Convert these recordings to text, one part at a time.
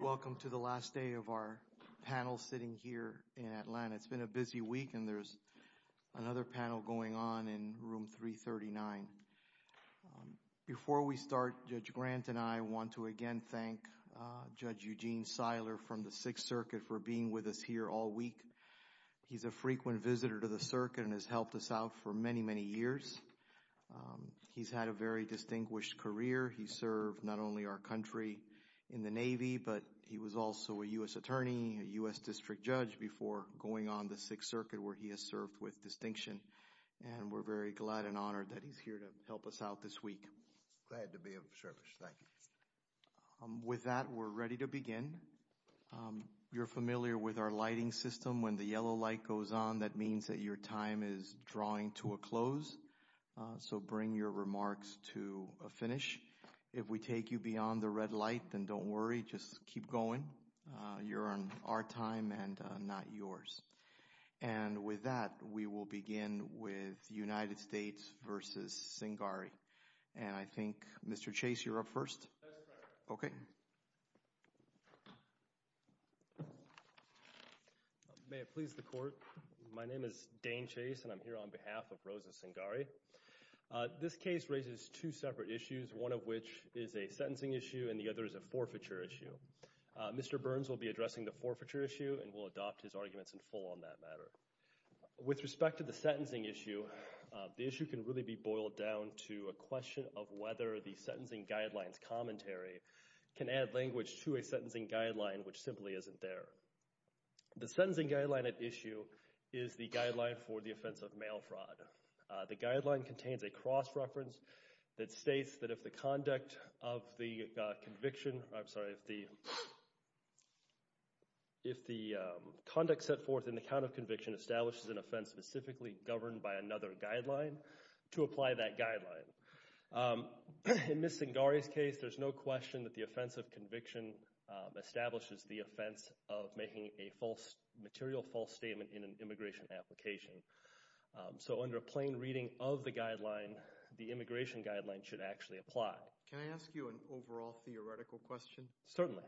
Welcome to the last day of our panel sitting here in Atlanta. It's been a busy week and there's another panel going on in room 339. Before we start, Judge Grant and I want to again thank Judge Eugene Seiler from the Sixth Circuit for being with us here all week. He's a frequent visitor to the circuit and has helped us out for many, many years. He's had a very distinguished career. He served not only our country in the Navy, but he was also a U.S. attorney, a U.S. district judge before going on the Sixth Circuit where he has served with distinction. And we're very glad and honored that he's here to help us out this week. Judge Grant Glad to be of service. Thank you. Judge Seiler With that, we're ready to begin. You're familiar with our lighting system. When the yellow light goes on, that means that your time is drawing to a close. So, bring your remarks to a finish. If we take you beyond the red light, then don't worry. Just keep going. You're on our time and not yours. And with that, we will begin with United States v. Cingari. And I think, Mr. Chase, you're up first. Okay. May it please the Court. My name is Dane Chase and I'm here on behalf of Rosa Cingari. This case raises two separate issues, one of which is a sentencing issue and the other is a forfeiture issue. Mr. Burns will be addressing the forfeiture issue and will adopt his arguments in full on that matter. With respect to the sentencing issue, the issue can really be boiled down to a question of whether the sentencing guidelines commentary can add language to a sentencing guideline, which simply isn't there. The sentencing guideline at issue is the guideline for the offense of mail fraud. The guideline contains a cross-reference that states that if the conduct of the conviction – I'm sorry, if the conduct set forth in the count of conviction establishes an offense specifically governed by another guideline – to apply that guideline. In Ms. Cingari's case, there's no question that the offense of conviction establishes the offense of making a material false statement in an immigration application. So, under a plain reading of the guideline, the immigration guideline should actually apply. Can I ask you an overall theoretical question? Certainly.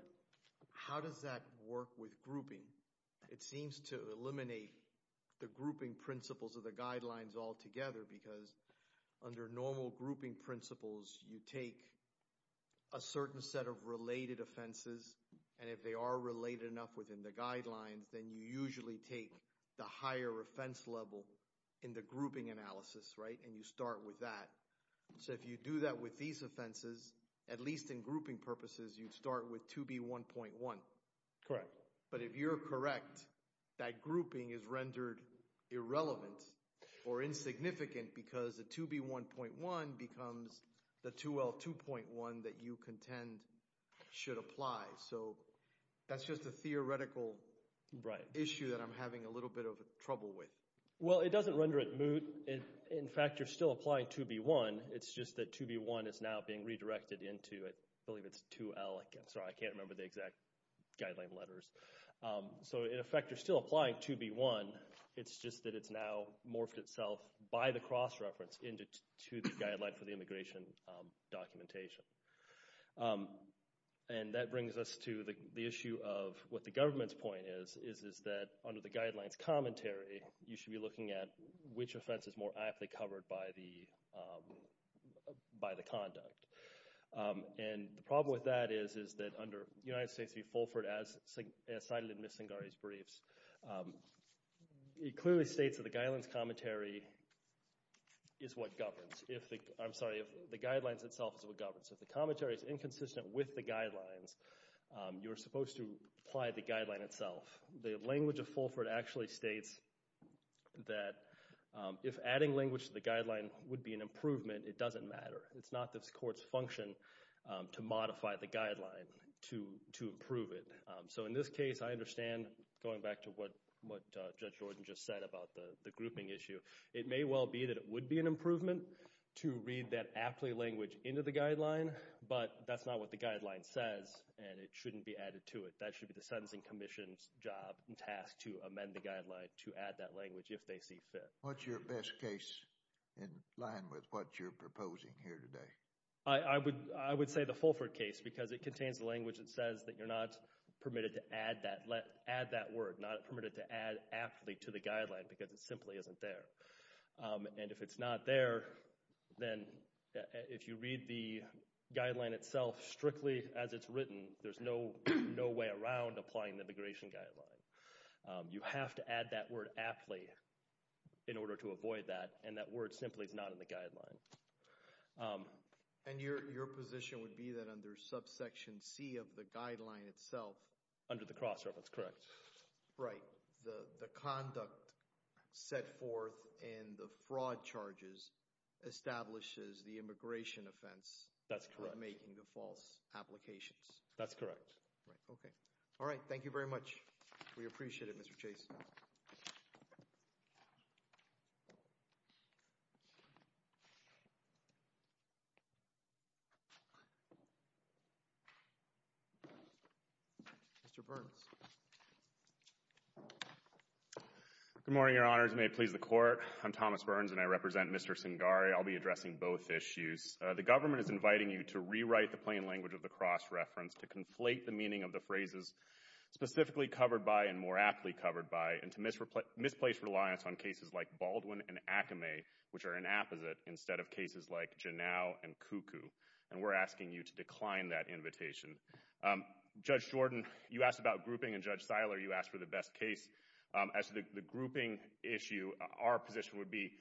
How does that work with grouping? It seems to eliminate the grouping principles of the guidelines altogether because under normal grouping principles, you take a certain set of related offenses, and if they are related enough within the guidelines, then you usually take the higher offense level in the grouping analysis, right? And you start with that. So, if you do that with these offenses, at least in grouping purposes, you'd start with 2B1.1. Correct. But if you're correct, that grouping is rendered irrelevant or insignificant because the 2B1.1 becomes the 2L2.1 that you contend should apply. So, that's just a theoretical issue that I'm having a little bit of trouble with. Well, it doesn't render it moot. In fact, you're still applying 2B1. It's just that 2B1 is now being redirected into – I believe it's 2L. I'm sorry. I can't remember the exact guideline letters. So, in effect, you're still applying 2B1. It's just that it's now morphed itself by the cross-reference into the guideline for the immigration documentation. And that brings us to the issue of what the government's point is, is that under the guidelines commentary, you should be looking at which offense is more aptly covered by the conduct. And the problem with that is that under United States v. Fulford, as cited in Ms. Singari's briefs, it clearly states that the guidelines commentary is what governs. I'm sorry. The guidelines itself is what governs. If the commentary is inconsistent with the guidelines, you're supposed to apply the guideline itself. The language of Fulford actually states that if adding language to the guideline would be an improvement, it doesn't matter. It's not the court's function to modify the guideline to improve it. So, in this case, I understand going back to what Judge Jordan just said about the grouping issue. It may well be that it would be an improvement to read that aptly language into the guideline, but that's not what the guideline says, and it shouldn't be added to it. That should be the Sentencing Commission's job and task to amend the guideline to add that language if they see fit. What's your best case in line with what you're proposing here today? I would say the Fulford case because it contains the language that says that you're not permitted to add that word, not permitted to add aptly to the guideline because it simply isn't there. And if it's not there, then if you read the guideline itself strictly as it's written, there's no way around applying the immigration guideline. You have to add that word aptly in order to avoid that, and that word simply is not in the guideline. And your position would be that under subsection C of the guideline itself... Under the Crossref, that's correct. Right. The conduct set forth in the fraud charges establishes the immigration offense... That's correct. ...for making the false applications. That's correct. Right, okay. All right, thank you very much. We appreciate it, Mr. Chase. Mr. Burns. Good morning, Your Honors. May it please the Court. I'm Thomas Burns, and I represent Mr. Singari. I'll be addressing both issues. The government is inviting you to rewrite the plain language of the Crossreference to conflate the meaning of the phrases specifically covered by and more aptly covered by, and to misplace reliance on cases like Baldwin and Acame, which are an apposite, instead of cases like Janow and Cuckoo. And we're asking you to decline that invitation. Judge Jordan, you asked about grouping, and Judge Seiler, you asked for the best case. As to the grouping issue, our position would be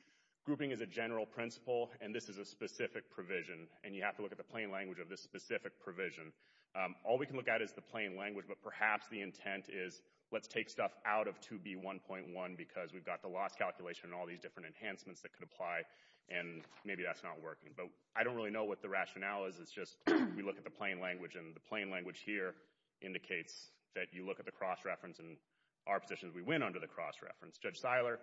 grouping is a general principle, and this is a specific provision, and you have to look at the plain language of this specific provision. All we can look at is the plain language, but perhaps the intent is let's take stuff out of 2B1.1 because we've got the loss calculation and all these different enhancements that could apply, and maybe that's not working. But I don't really know what the rationale is. It's just we look at the plain language, and the plain language here indicates that you look at the Crossreference, and our position is we win under the Crossreference. Judge Seiler?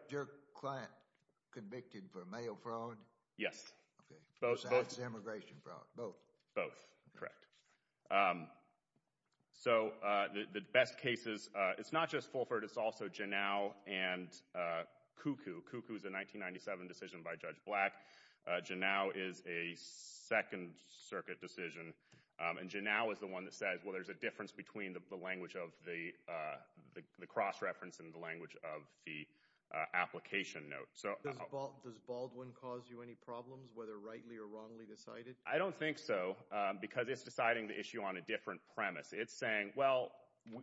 Yes. Okay. Both. Both. Both. Correct. So, the best cases, it's not just Fulford. It's also Janow and Cuckoo. Cuckoo is a 1997 decision by Judge Black. Janow is a Second Circuit decision, and Janow is the one that says, well, there's a difference between the language of the Crossreference and the language of the application note. Does Baldwin cause you any problems, whether rightly or wrongly decided? I don't think so, because it's deciding the issue on a different premise. It's saying, well,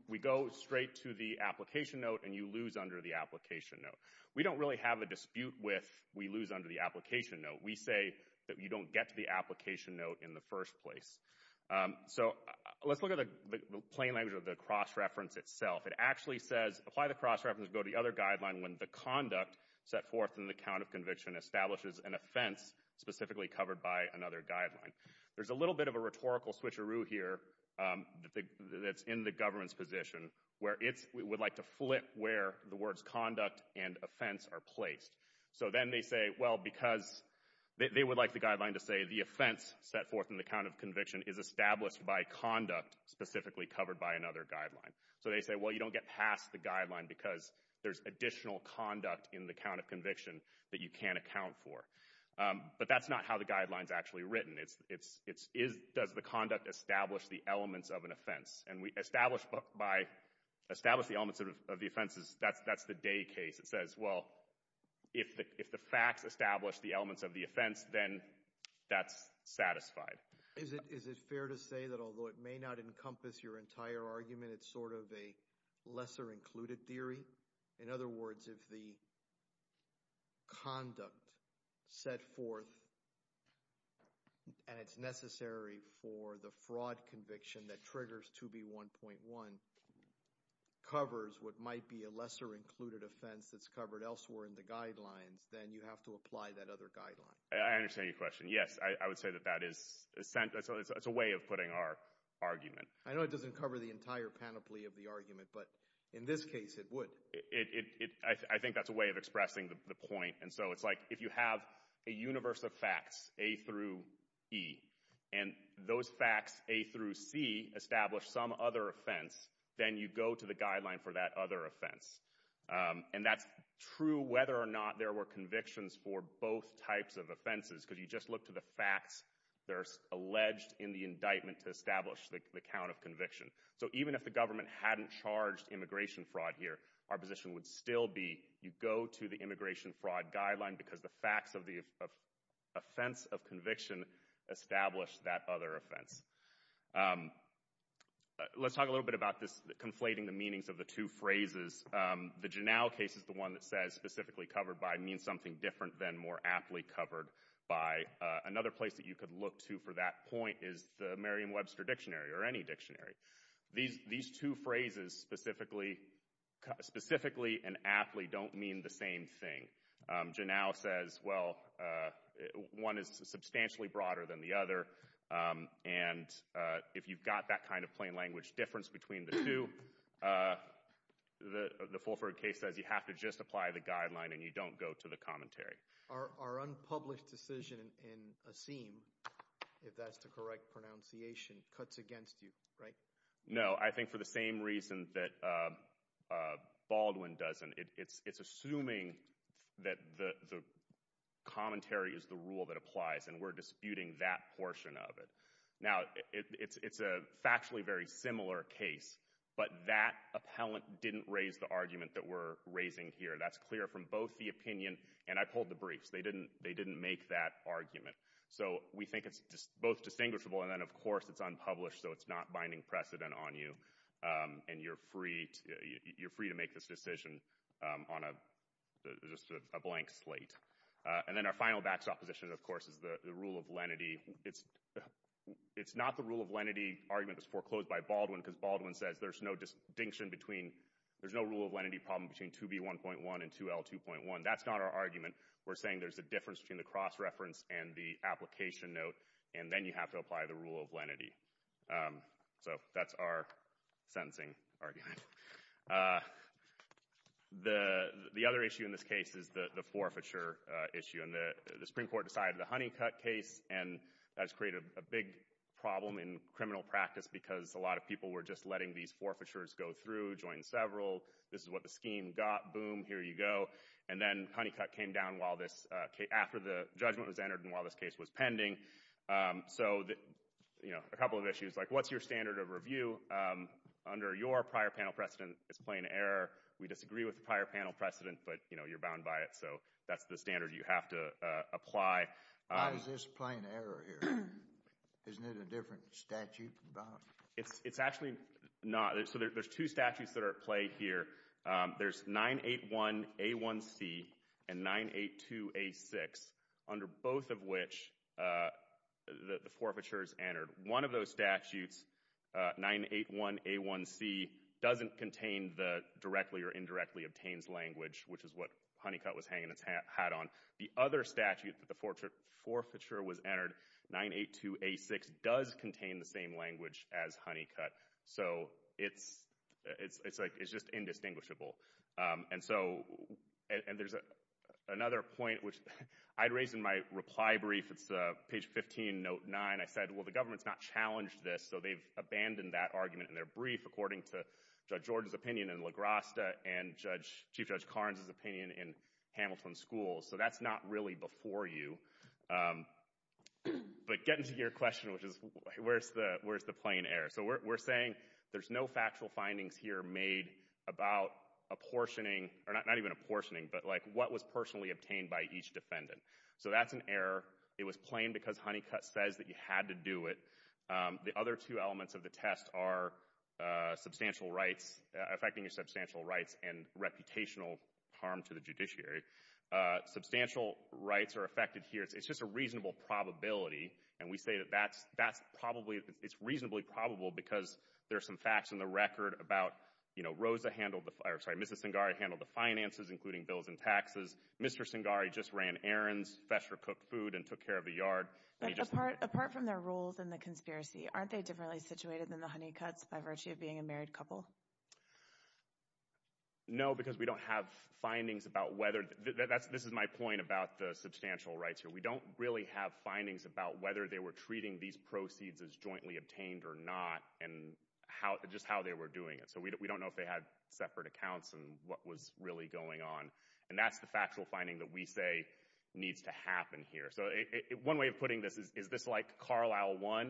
we go straight to the application note, and you lose under the application note. We don't really have a dispute with we lose under the application note. We say that you don't get to the application note in the first place. So, let's look at the plain language of the Crossreference itself. It actually says, apply the Crossreference, go to the other guideline when the conduct set forth in the count of conviction establishes an offense specifically covered by another guideline. There's a little bit of a rhetorical switcheroo here that's in the government's position, where it would like to flip where the words conduct and offense are placed. So, then they say, well, because they would like the guideline to say the offense set forth in the count of conviction is established by conduct specifically covered by another guideline. So, they say, well, you don't get past the guideline, because there's additional conduct in the count of conviction that you can't account for. But that's not how the guideline's actually written. It's does the conduct establish the elements of an offense? And we establish the elements of the offenses. That's the day case. It says, well, if the facts establish the elements of the offense, then that's satisfied. Is it fair to say that although it may not encompass your entire argument, it's sort of a lesser included theory? In other words, if the conduct set forth and it's necessary for the fraud conviction that triggers 2B1.1 covers what might be a lesser included offense that's covered elsewhere in the guidelines, then you have to apply that other guideline. I understand your question. Yes, I would say that that is a way of putting our argument. I know it doesn't cover the entire panoply of the argument, but in this case it would. I think that's a way of expressing the point. And so it's like if you have a universe of facts, A through E, and those facts, A through C, establish some other offense, then you go to the guideline for that other offense. And that's true whether or not there were convictions for both types of offenses, because you just look to the facts. They're alleged in the indictment to establish the count of conviction. So even if the government hadn't charged immigration fraud here, our position would still be you go to the immigration fraud guideline because the facts of the offense of conviction establish that other offense. Let's talk a little bit about this conflating the meanings of the two phrases. The Janow case is the one that says specifically covered by means something different than more aptly covered by. Another place that you could look to for that point is the Merriam-Webster Dictionary or any dictionary. These two phrases, specifically and aptly, don't mean the same thing. Janow says, well, one is substantially broader than the other. And if you've got that kind of plain language difference between the two, the Fulford case says you have to just apply the guideline and you don't go to the commentary. Our unpublished decision in Assim, if that's the correct pronunciation, cuts against you, right? No, I think for the same reason that Baldwin doesn't. It's assuming that the commentary is the rule that applies and we're disputing that portion of it. Now, it's a factually very similar case, but that appellant didn't raise the argument that we're raising here. That's clear from both the opinion and I pulled the briefs. They didn't make that argument. So we think it's both distinguishable. And then, of course, it's unpublished, so it's not binding precedent on you. And you're free to make this decision on a blank slate. And then our final backstop position, of course, is the rule of lenity. It's not the rule of lenity argument that's foreclosed by Baldwin because Baldwin says there's no rule of lenity problem between 2B1.1 and 2L2.1. That's not our argument. We're saying there's a difference between the cross-reference and the application note, and then you have to apply the rule of lenity. So that's our sentencing argument. The other issue in this case is the forfeiture issue, and the Supreme Court decided the Honeycutt case, and that's created a big problem in criminal practice because a lot of people were just letting these forfeitures go through, join several. This is what the scheme got. Boom, here you go. And then Honeycutt came down after the judgment was entered and while this case was pending. So a couple of issues, like what's your standard of review? Under your prior panel precedent, it's plain error. We disagree with the prior panel precedent, but you're bound by it, so that's the standard you have to apply. Why is this plain error here? Isn't it a different statute? It's actually not. So there's two statutes that are at play here. There's 981A1C and 982A6, under both of which the forfeiture is entered. One of those statutes, 981A1C, doesn't contain the directly or indirectly obtains language, which is what Honeycutt was hanging its hat on. The other statute that the forfeiture was entered, 982A6, does contain the same language as Honeycutt. So it's just indistinguishable. And there's another point, which I'd raised in my reply brief. It's page 15, note 9. I said, well, the government's not challenged this, so they've abandoned that argument in their brief, according to Judge Jordan's opinion in La Grasta and Chief Judge Carnes' opinion in Hamilton Schools. So that's not really before you. But getting to your question, which is where's the plain error? So we're saying there's no factual findings here made about apportioning, or not even apportioning, but what was personally obtained by each defendant. So that's an error. It was plain because Honeycutt says that you had to do it. The other two elements of the test are affecting your substantial rights and reputational harm to the judiciary. Substantial rights are affected here. It's just a reasonable probability. And we say that that's probably, it's reasonably probable because there's some facts in the record about, you know, Rosa handled the, or sorry, Mrs. Singari handled the finances, including bills and taxes. Mr. Singari just ran errands, Fesher cooked food, and took care of the yard. Apart from their roles in the conspiracy, aren't they differently situated than the Honeycutts by virtue of being a married couple? No, because we don't have findings about whether, this is my point about the substantial rights here. We don't really have findings about whether they were treating these proceeds as jointly obtained or not, and just how they were doing it. So we don't know if they had separate accounts and what was really going on. And that's the factual finding that we say needs to happen here. So one way of putting this is, is this like Carlisle I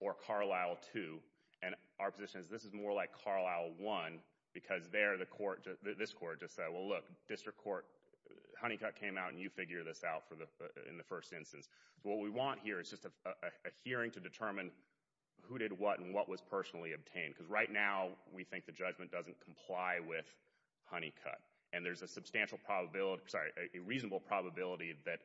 or Carlisle II? And our position is this is more like Carlisle I because there the court, this court just said, well look, district court, Honeycutt came out and you figure this out in the first instance. So what we want here is just a hearing to determine who did what and what was personally obtained. Because right now we think the judgment doesn't comply with Honeycutt. And there's a substantial probability, sorry, a reasonable probability that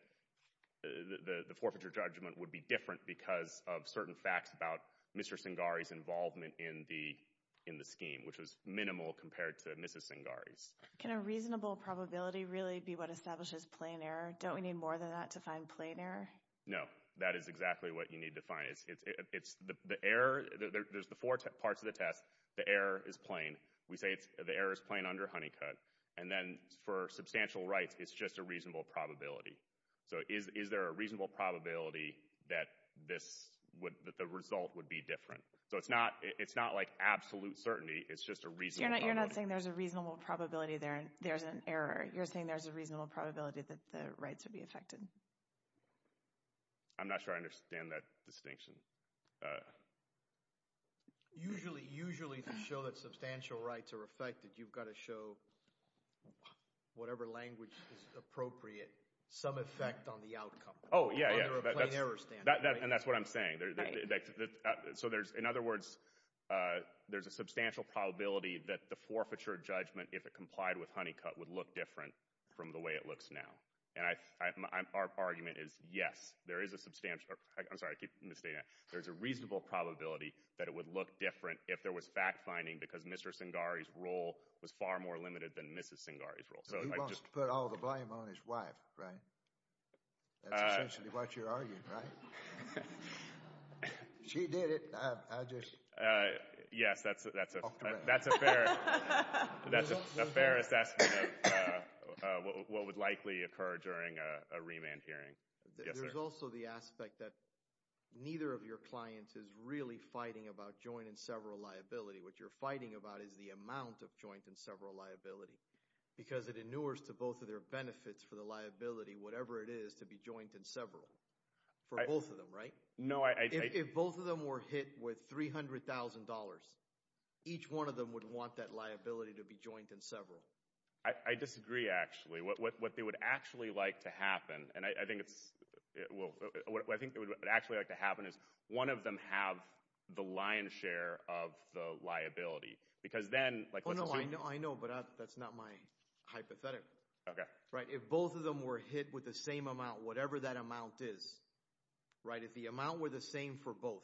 the forfeiture judgment would be different because of certain facts about Mr. Singari's involvement in the scheme, which was minimal compared to Mrs. Singari's. Can a reasonable probability really be what establishes plain error? Don't we need more than that to find plain error? No, that is exactly what you need to find. There's the four parts of the test. The error is plain. We say the error is plain under Honeycutt. And then for substantial rights, it's just a reasonable probability. So is there a reasonable probability that the result would be different? So it's not like absolute certainty. It's just a reasonable probability. You're not saying there's a reasonable probability there's an error. You're saying there's a reasonable probability that the rights would be affected. I'm not sure I understand that distinction. Usually, usually to show that substantial rights are affected, you've got to show, whatever language is appropriate, some effect on the outcome. Oh, yeah, yeah. And that's what I'm saying. So in other words, there's a substantial probability that the forfeiture judgment, if it complied with Honeycutt, would look different from the way it looks now. And our argument is, yes, there is a substantial – I'm sorry, I keep misstating that. There's a reasonable probability that it would look different if there was fact-finding because Mr. Singari's role was far more limited than Mrs. Singari's role. So he wants to put all the blame on his wife, right? That's essentially what you're arguing, right? She did it. I just talked about it. That's a fair assessment of what would likely occur during a remand hearing. There's also the aspect that neither of your clients is really fighting about joint and several liability. What you're fighting about is the amount of joint and several liability because it inures to both of their benefits for the liability, whatever it is, to be joint and several for both of them, right? If both of them were hit with $300,000, each one of them would want that liability to be joint and several. I disagree, actually. What they would actually like to happen, and I think it's – well, what I think they would actually like to happen is one of them have the lion's share of the liability because then – Oh, no, I know, but that's not my hypothetical. Okay. If both of them were hit with the same amount, whatever that amount is, if the amount were the same for both,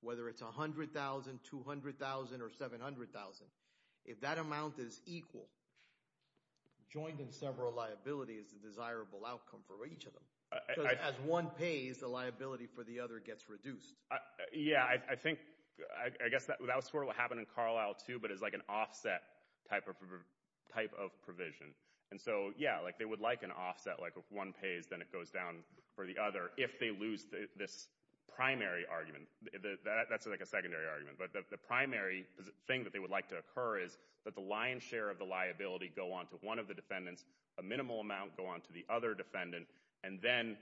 whether it's $100,000, $200,000, or $700,000, if that amount is equal, joint and several liability is the desirable outcome for each of them because as one pays, the liability for the other gets reduced. Yeah, I think – I guess that was sort of what happened in Carlisle, too, but it's like an offset type of provision. And so, yeah, like they would like an offset, like if one pays, then it goes down for the other if they lose this primary argument. That's like a secondary argument, but the primary thing that they would like to occur is that the lion's share of the liability go on to one of the defendants, a minimal amount go on to the other defendant, and then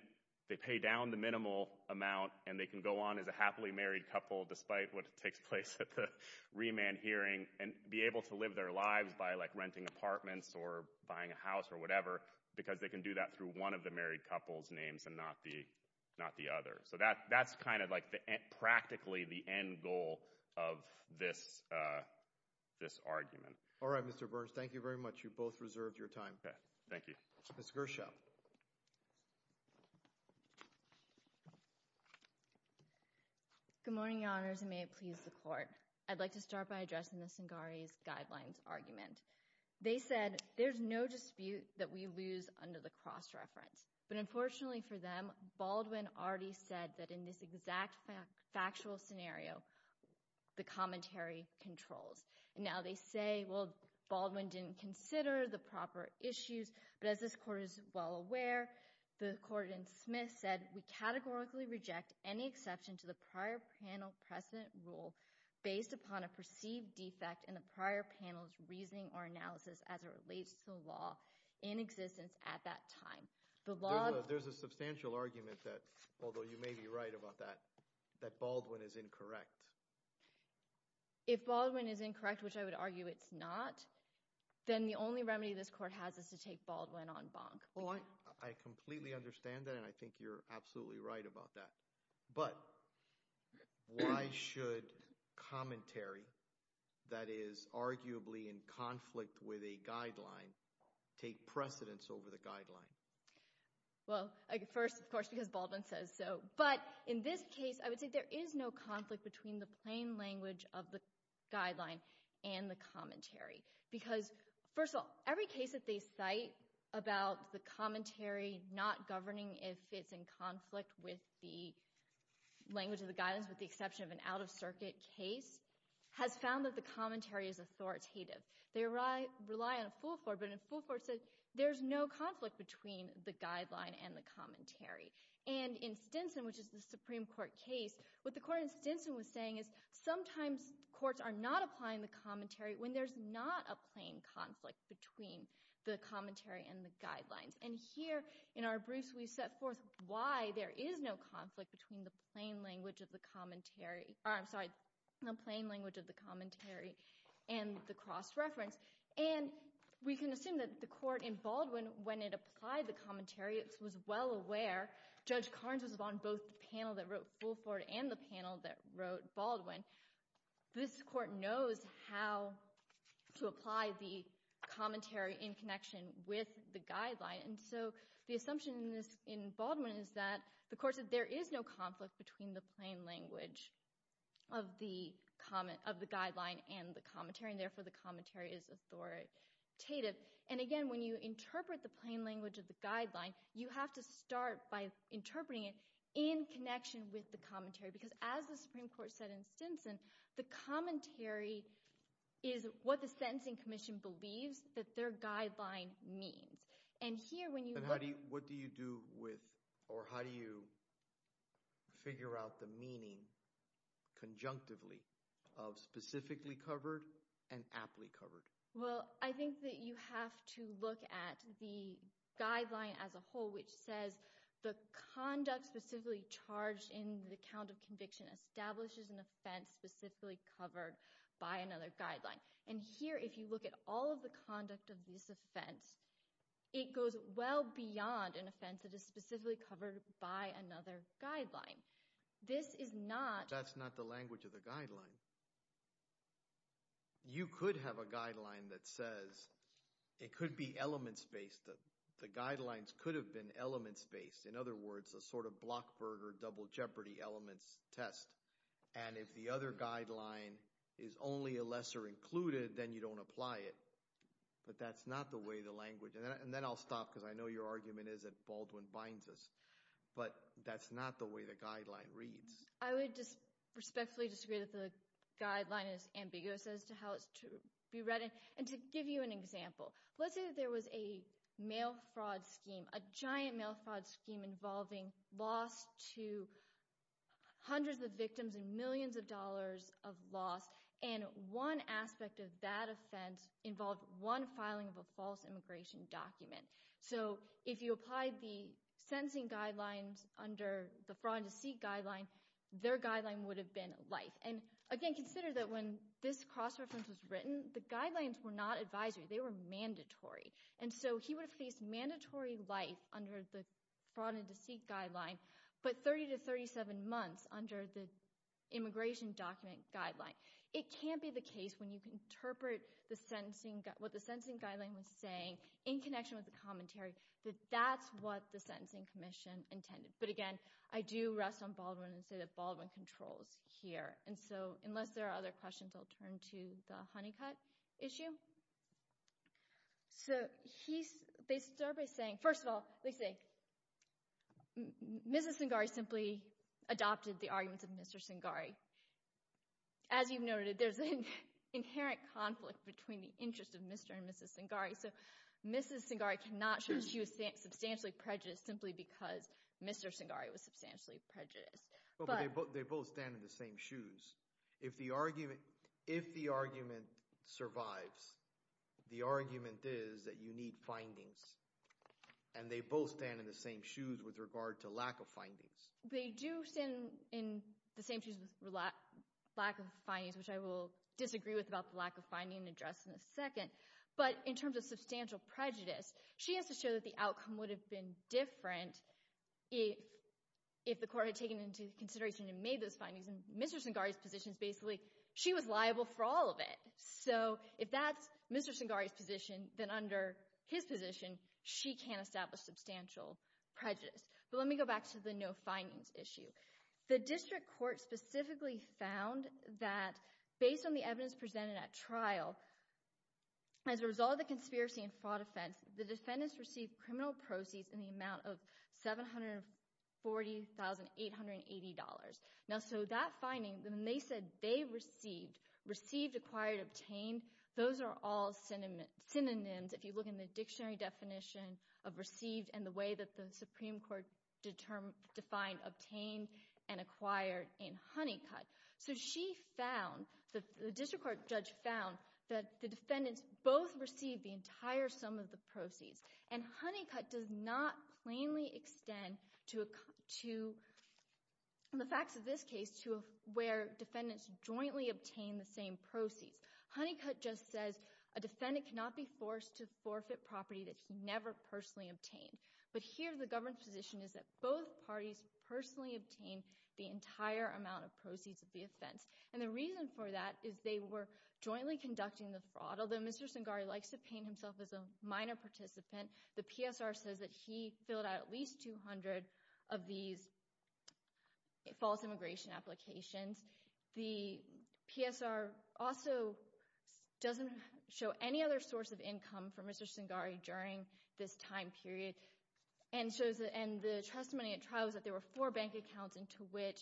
they pay down the minimal amount and they can go on as a happily married couple despite what takes place at the remand hearing and be able to live their lives by like renting apartments or buying a house or whatever because they can do that through one of the married couple's names and not the other. So, that's kind of like practically the end goal of this argument. All right, Mr. Burns. Thank you very much. You both reserved your time. Thank you. Ms. Gershow. Good morning, Your Honors, and may it please the Court. I'd like to start by addressing the Cingaris Guidelines argument. They said there's no dispute that we lose under the cross-reference, but unfortunately for them, Baldwin already said that in this exact factual scenario, the commentary controls. And now they say, well, Baldwin didn't consider the proper issues, but as this Court is well aware, the Court in Smith said, we categorically reject any exception to the prior panel precedent rule based upon a perceived defect in the prior panel's reasoning or analysis as it relates to the law in existence at that time. There's a substantial argument that, although you may be right about that, that Baldwin is incorrect. If Baldwin is incorrect, which I would argue it's not, then the only remedy this Court has is to take Baldwin on bonk. Well, I completely understand that, and I think you're absolutely right about that. But why should commentary that is arguably in conflict with a guideline take precedence over the guideline? Well, first, of course, because Baldwin says so. But in this case, I would say there is no conflict between the plain language of the guideline and the commentary. Because, first of all, every case that they cite about the commentary not governing if it's in conflict with the language of the guidelines with the exception of an out-of-circuit case has found that the commentary is authoritative. They rely on Fulford, but Fulford said there's no conflict between the guideline and the commentary. And in Stinson, which is the Supreme Court case, what the Court in Stinson was saying is sometimes courts are not applying the commentary when there's not a plain conflict between the commentary and the guidelines. And here in our briefs, we set forth why there is no conflict between the plain language of the commentary and the cross-reference. And we can assume that the Court in Baldwin, when it applied the commentary, it was well aware. Judge Carnes was on both the panel that wrote Fulford and the panel that wrote Baldwin. This court knows how to apply the commentary in connection with the guideline. And so the assumption in Baldwin is that the court said there is no conflict between the plain language of the guideline and the commentary, and therefore the commentary is authoritative. And, again, when you interpret the plain language of the guideline, you have to start by interpreting it in connection with the commentary. Because as the Supreme Court said in Stinson, the commentary is what the Sentencing Commission believes that their guideline means. And here when you – What do you do with – or how do you figure out the meaning conjunctively of specifically covered and aptly covered? Well, I think that you have to look at the guideline as a whole, which says the conduct specifically charged in the count of conviction establishes an offense specifically covered by another guideline. And here, if you look at all of the conduct of this offense, it goes well beyond an offense that is specifically covered by another guideline. This is not – That's not the language of the guideline. You could have a guideline that says – it could be elements-based. The guidelines could have been elements-based. In other words, a sort of Blockberg or double jeopardy elements test. And if the other guideline is only a lesser included, then you don't apply it. But that's not the way the language – and then I'll stop because I know your argument is that Baldwin binds us. But that's not the way the guideline reads. I would respectfully disagree that the guideline is ambiguous as to how it's to be read. And to give you an example, let's say that there was a mail fraud scheme, a giant mail fraud scheme involving loss to hundreds of victims and millions of dollars of loss. And one aspect of that offense involved one filing of a false immigration document. So if you applied the sentencing guidelines under the fraud and deceit guideline, their guideline would have been life. And, again, consider that when this cross-reference was written, the guidelines were not advisory. They were mandatory. And so he would have faced mandatory life under the fraud and deceit guideline but 30 to 37 months under the immigration document guideline. It can't be the case when you interpret what the sentencing guideline was saying in connection with the commentary that that's what the sentencing commission intended. But, again, I do rest on Baldwin and say that Baldwin controls here. And so unless there are other questions, I'll turn to the Honeycutt issue. So they start by saying – first of all, they say Mrs. Singari simply adopted the arguments of Mr. Singari. As you've noted, there's an inherent conflict between the interests of Mr. and Mrs. Singari. So Mrs. Singari cannot show she was substantially prejudiced simply because Mr. Singari was substantially prejudiced. But they both stand in the same shoes. If the argument survives, the argument is that you need findings. And they both stand in the same shoes with regard to lack of findings. They do stand in the same shoes with lack of findings, which I will disagree with about the lack of finding addressed in a second. But in terms of substantial prejudice, she has to show that the outcome would have been different if the court had taken into consideration and made those findings. And Mr. Singari's position is basically she was liable for all of it. So if that's Mr. Singari's position, then under his position she can't establish substantial prejudice. But let me go back to the no findings issue. The district court specifically found that based on the evidence presented at trial, as a result of the conspiracy and fraud offense, the defendants received criminal proceeds in the amount of $740,880. Now, so that finding, when they said they received, received, acquired, obtained, those are all synonyms if you look in the dictionary definition of received and the way that the Supreme Court defined obtained and acquired in Honeycutt. So she found, the district court judge found, that the defendants both received the entire sum of the proceeds. And Honeycutt does not plainly extend to, in the facts of this case, to where defendants jointly obtained the same proceeds. Honeycutt just says a defendant cannot be forced to forfeit property that he never personally obtained. But here the government's position is that both parties personally obtained the entire amount of proceeds of the offense. And the reason for that is they were jointly conducting the fraud. Although Mr. Singari likes to paint himself as a minor participant, the PSR says that he filled out at least 200 of these false immigration applications. The PSR also doesn't show any other source of income for Mr. Singari during this time period. And the testimony at trial was that there were four bank accounts into which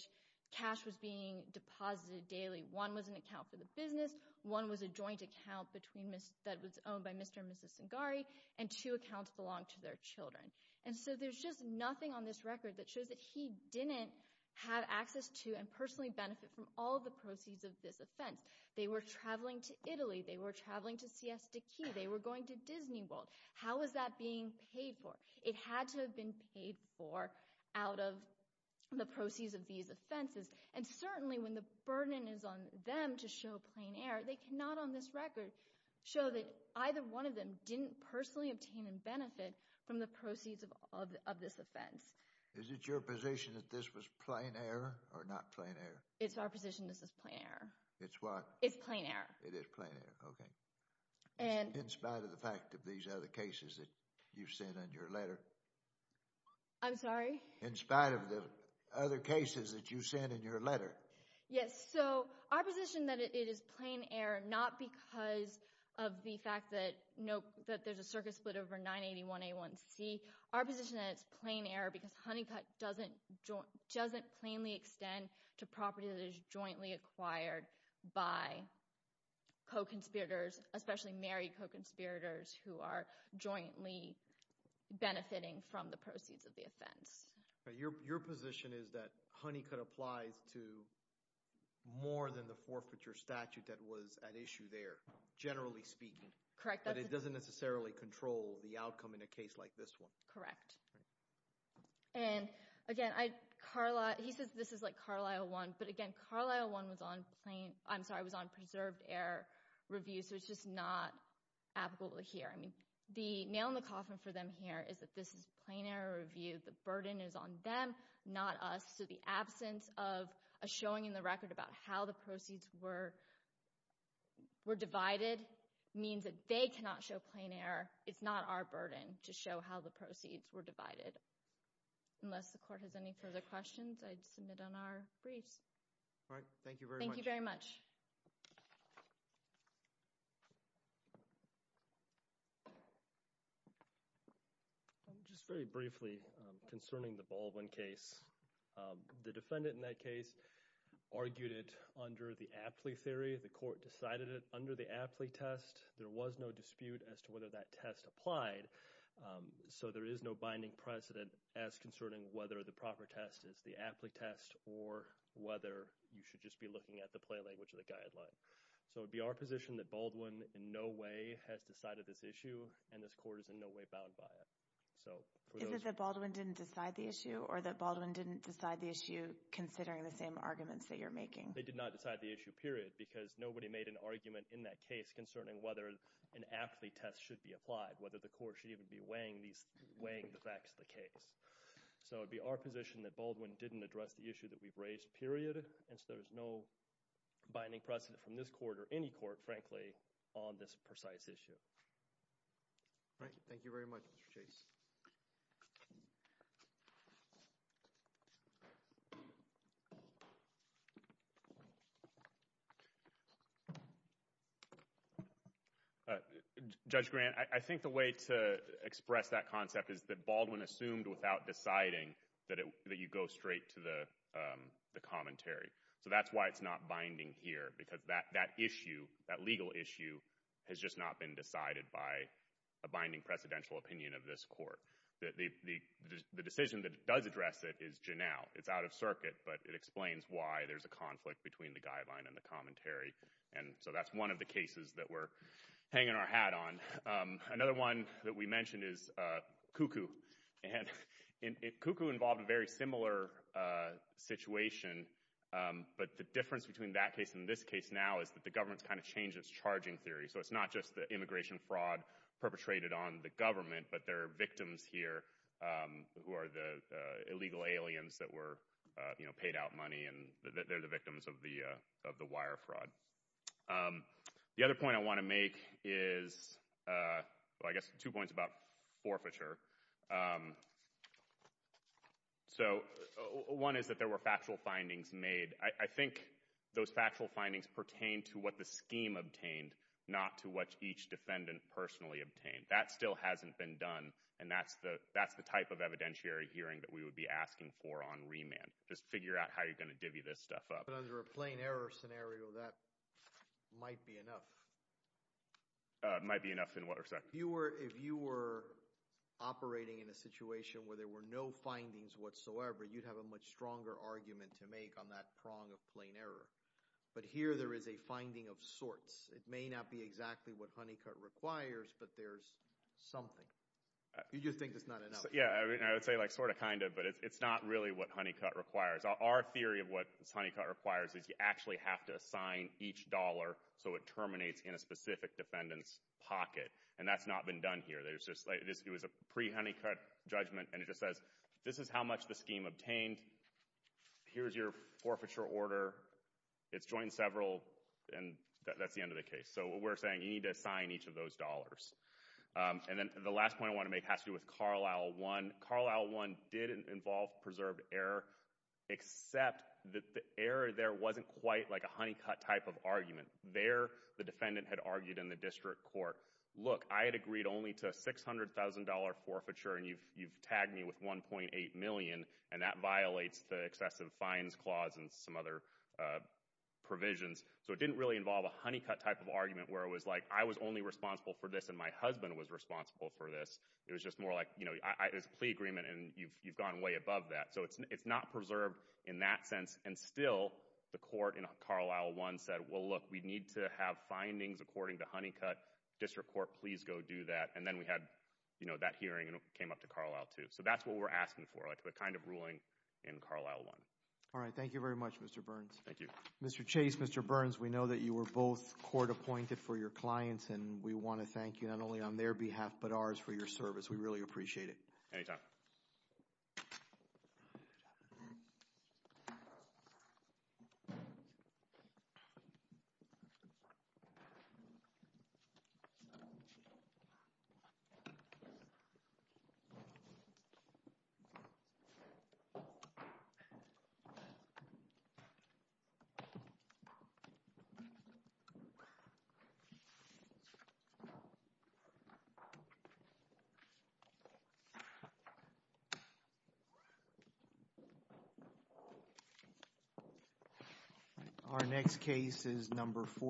cash was being deposited daily. One was an account for the business. One was a joint account that was owned by Mr. and Mrs. Singari. And two accounts belonged to their children. And so there's just nothing on this record that shows that he didn't have access to and personally benefit from all the proceeds of this offense. They were traveling to Italy. They were traveling to Siesta Key. They were going to Disney World. How was that being paid for? It had to have been paid for out of the proceeds of these offenses. And certainly when the burden is on them to show plain error, they cannot on this record show that either one of them didn't personally obtain and benefit from the proceeds of this offense. Is it your position that this was plain error or not plain error? It's our position this is plain error. It's what? It's plain error. It is plain error. Okay. In spite of the fact of these other cases that you've said in your letter? I'm sorry? In spite of the other cases that you've said in your letter? Yes. So our position that it is plain error not because of the fact that there's a circuit split over 981A1C. Our position that it's plain error because Honeycutt doesn't plainly extend to property that is jointly acquired by co-conspirators, especially married co-conspirators who are jointly benefiting from the proceeds of the offense. Your position is that Honeycutt applies to more than the forfeiture statute that was at issue there, generally speaking. Correct. But it doesn't necessarily control the outcome in a case like this one. Correct. And again, he says this is like Carlisle I. But again, Carlisle I was on preserved error review, so it's just not applicable here. The nail in the coffin for them here is that this is plain error review. The burden is on them, not us. So the absence of a showing in the record about how the proceeds were divided means that they cannot show plain error. It's not our burden to show how the proceeds were divided. Unless the court has any further questions, I'd submit on our briefs. All right. Thank you very much. Thank you very much. Just very briefly concerning the Baldwin case, the defendant in that case argued it under the aptly theory. The court decided it under the aptly test. There was no dispute as to whether that test applied. So there is no binding precedent as concerning whether the proper test is the aptly test or whether you should just be looking at the play language of the guideline. So it would be our position that Baldwin in no way has decided this issue, and this court is in no way bound by it. Is it that Baldwin didn't decide the issue or that Baldwin didn't decide the issue considering the same arguments that you're making? They did not decide the issue, period, because nobody made an argument in that case concerning whether an aptly test should be applied, whether the court should even be weighing the facts of the case. So it would be our position that Baldwin didn't address the issue that we've raised, period. And so there's no binding precedent from this court or any court, frankly, on this precise issue. All right. Thank you very much, Mr. Chase. Judge Grant, I think the way to express that concept is that Baldwin assumed without deciding that you go straight to the commentary. So that's why it's not binding here, because that issue, that legal issue, has just not been decided by a binding precedential opinion of this court. The decision that does address it is Janel. It's out of circuit, but it explains why there's a conflict between the guideline and the commentary. And so that's one of the cases that we're hanging our hat on. Another one that we mentioned is Cuckoo. And Cuckoo involved a very similar situation, but the difference between that case and this case now is that the government's kind of changed its charging theory. So it's not just the immigration fraud perpetrated on the government, but there are victims here who are the illegal aliens that were paid out money, and they're the victims of the wire fraud. The other point I want to make is, well, I guess two points about forfeiture. So one is that there were factual findings made. I think those factual findings pertain to what the scheme obtained, not to what each defendant personally obtained. That still hasn't been done, and that's the type of evidentiary hearing that we would be asking for on remand. Just figure out how you're going to divvy this stuff up. But under a plain error scenario, that might be enough. Might be enough in what respect? If you were operating in a situation where there were no findings whatsoever, you'd have a much stronger argument to make on that prong of plain error. But here there is a finding of sorts. It may not be exactly what Honeycutt requires, but there's something. You just think it's not enough. Yeah, I would say like sort of, kind of, but it's not really what Honeycutt requires. Our theory of what Honeycutt requires is you actually have to assign each dollar so it terminates in a specific defendant's pocket, and that's not been done here. It was a pre-Honeycutt judgment, and it just says, this is how much the scheme obtained. Here's your forfeiture order. It's joined several, and that's the end of the case. So what we're saying, you need to assign each of those dollars. And then the last point I want to make has to do with Carlisle I. Carlisle I did involve preserved error, except that the error there wasn't quite like a Honeycutt type of argument. There the defendant had argued in the district court, look, I had agreed only to a $600,000 forfeiture, and you've tagged me with $1.8 million, and that violates the excessive fines clause and some other provisions. So it didn't really involve a Honeycutt type of argument where it was like I was only responsible for this and my husband was responsible for this. It was just more like, you know, it was a plea agreement, and you've gone way above that. So it's not preserved in that sense, and still the court in Carlisle I said, well, look, we need to have findings according to Honeycutt. District court, please go do that. And then we had, you know, that hearing came up to Carlisle II. So that's what we're asking for, like the kind of ruling in Carlisle I. All right. Thank you very much, Mr. Burns. Thank you. Mr. Chase, Mr. Burns, we know that you were both court appointed for your clients, and we want to thank you not only on their behalf but ours for your service. We really appreciate it. Anytime. Thank you. Our next case is number 14.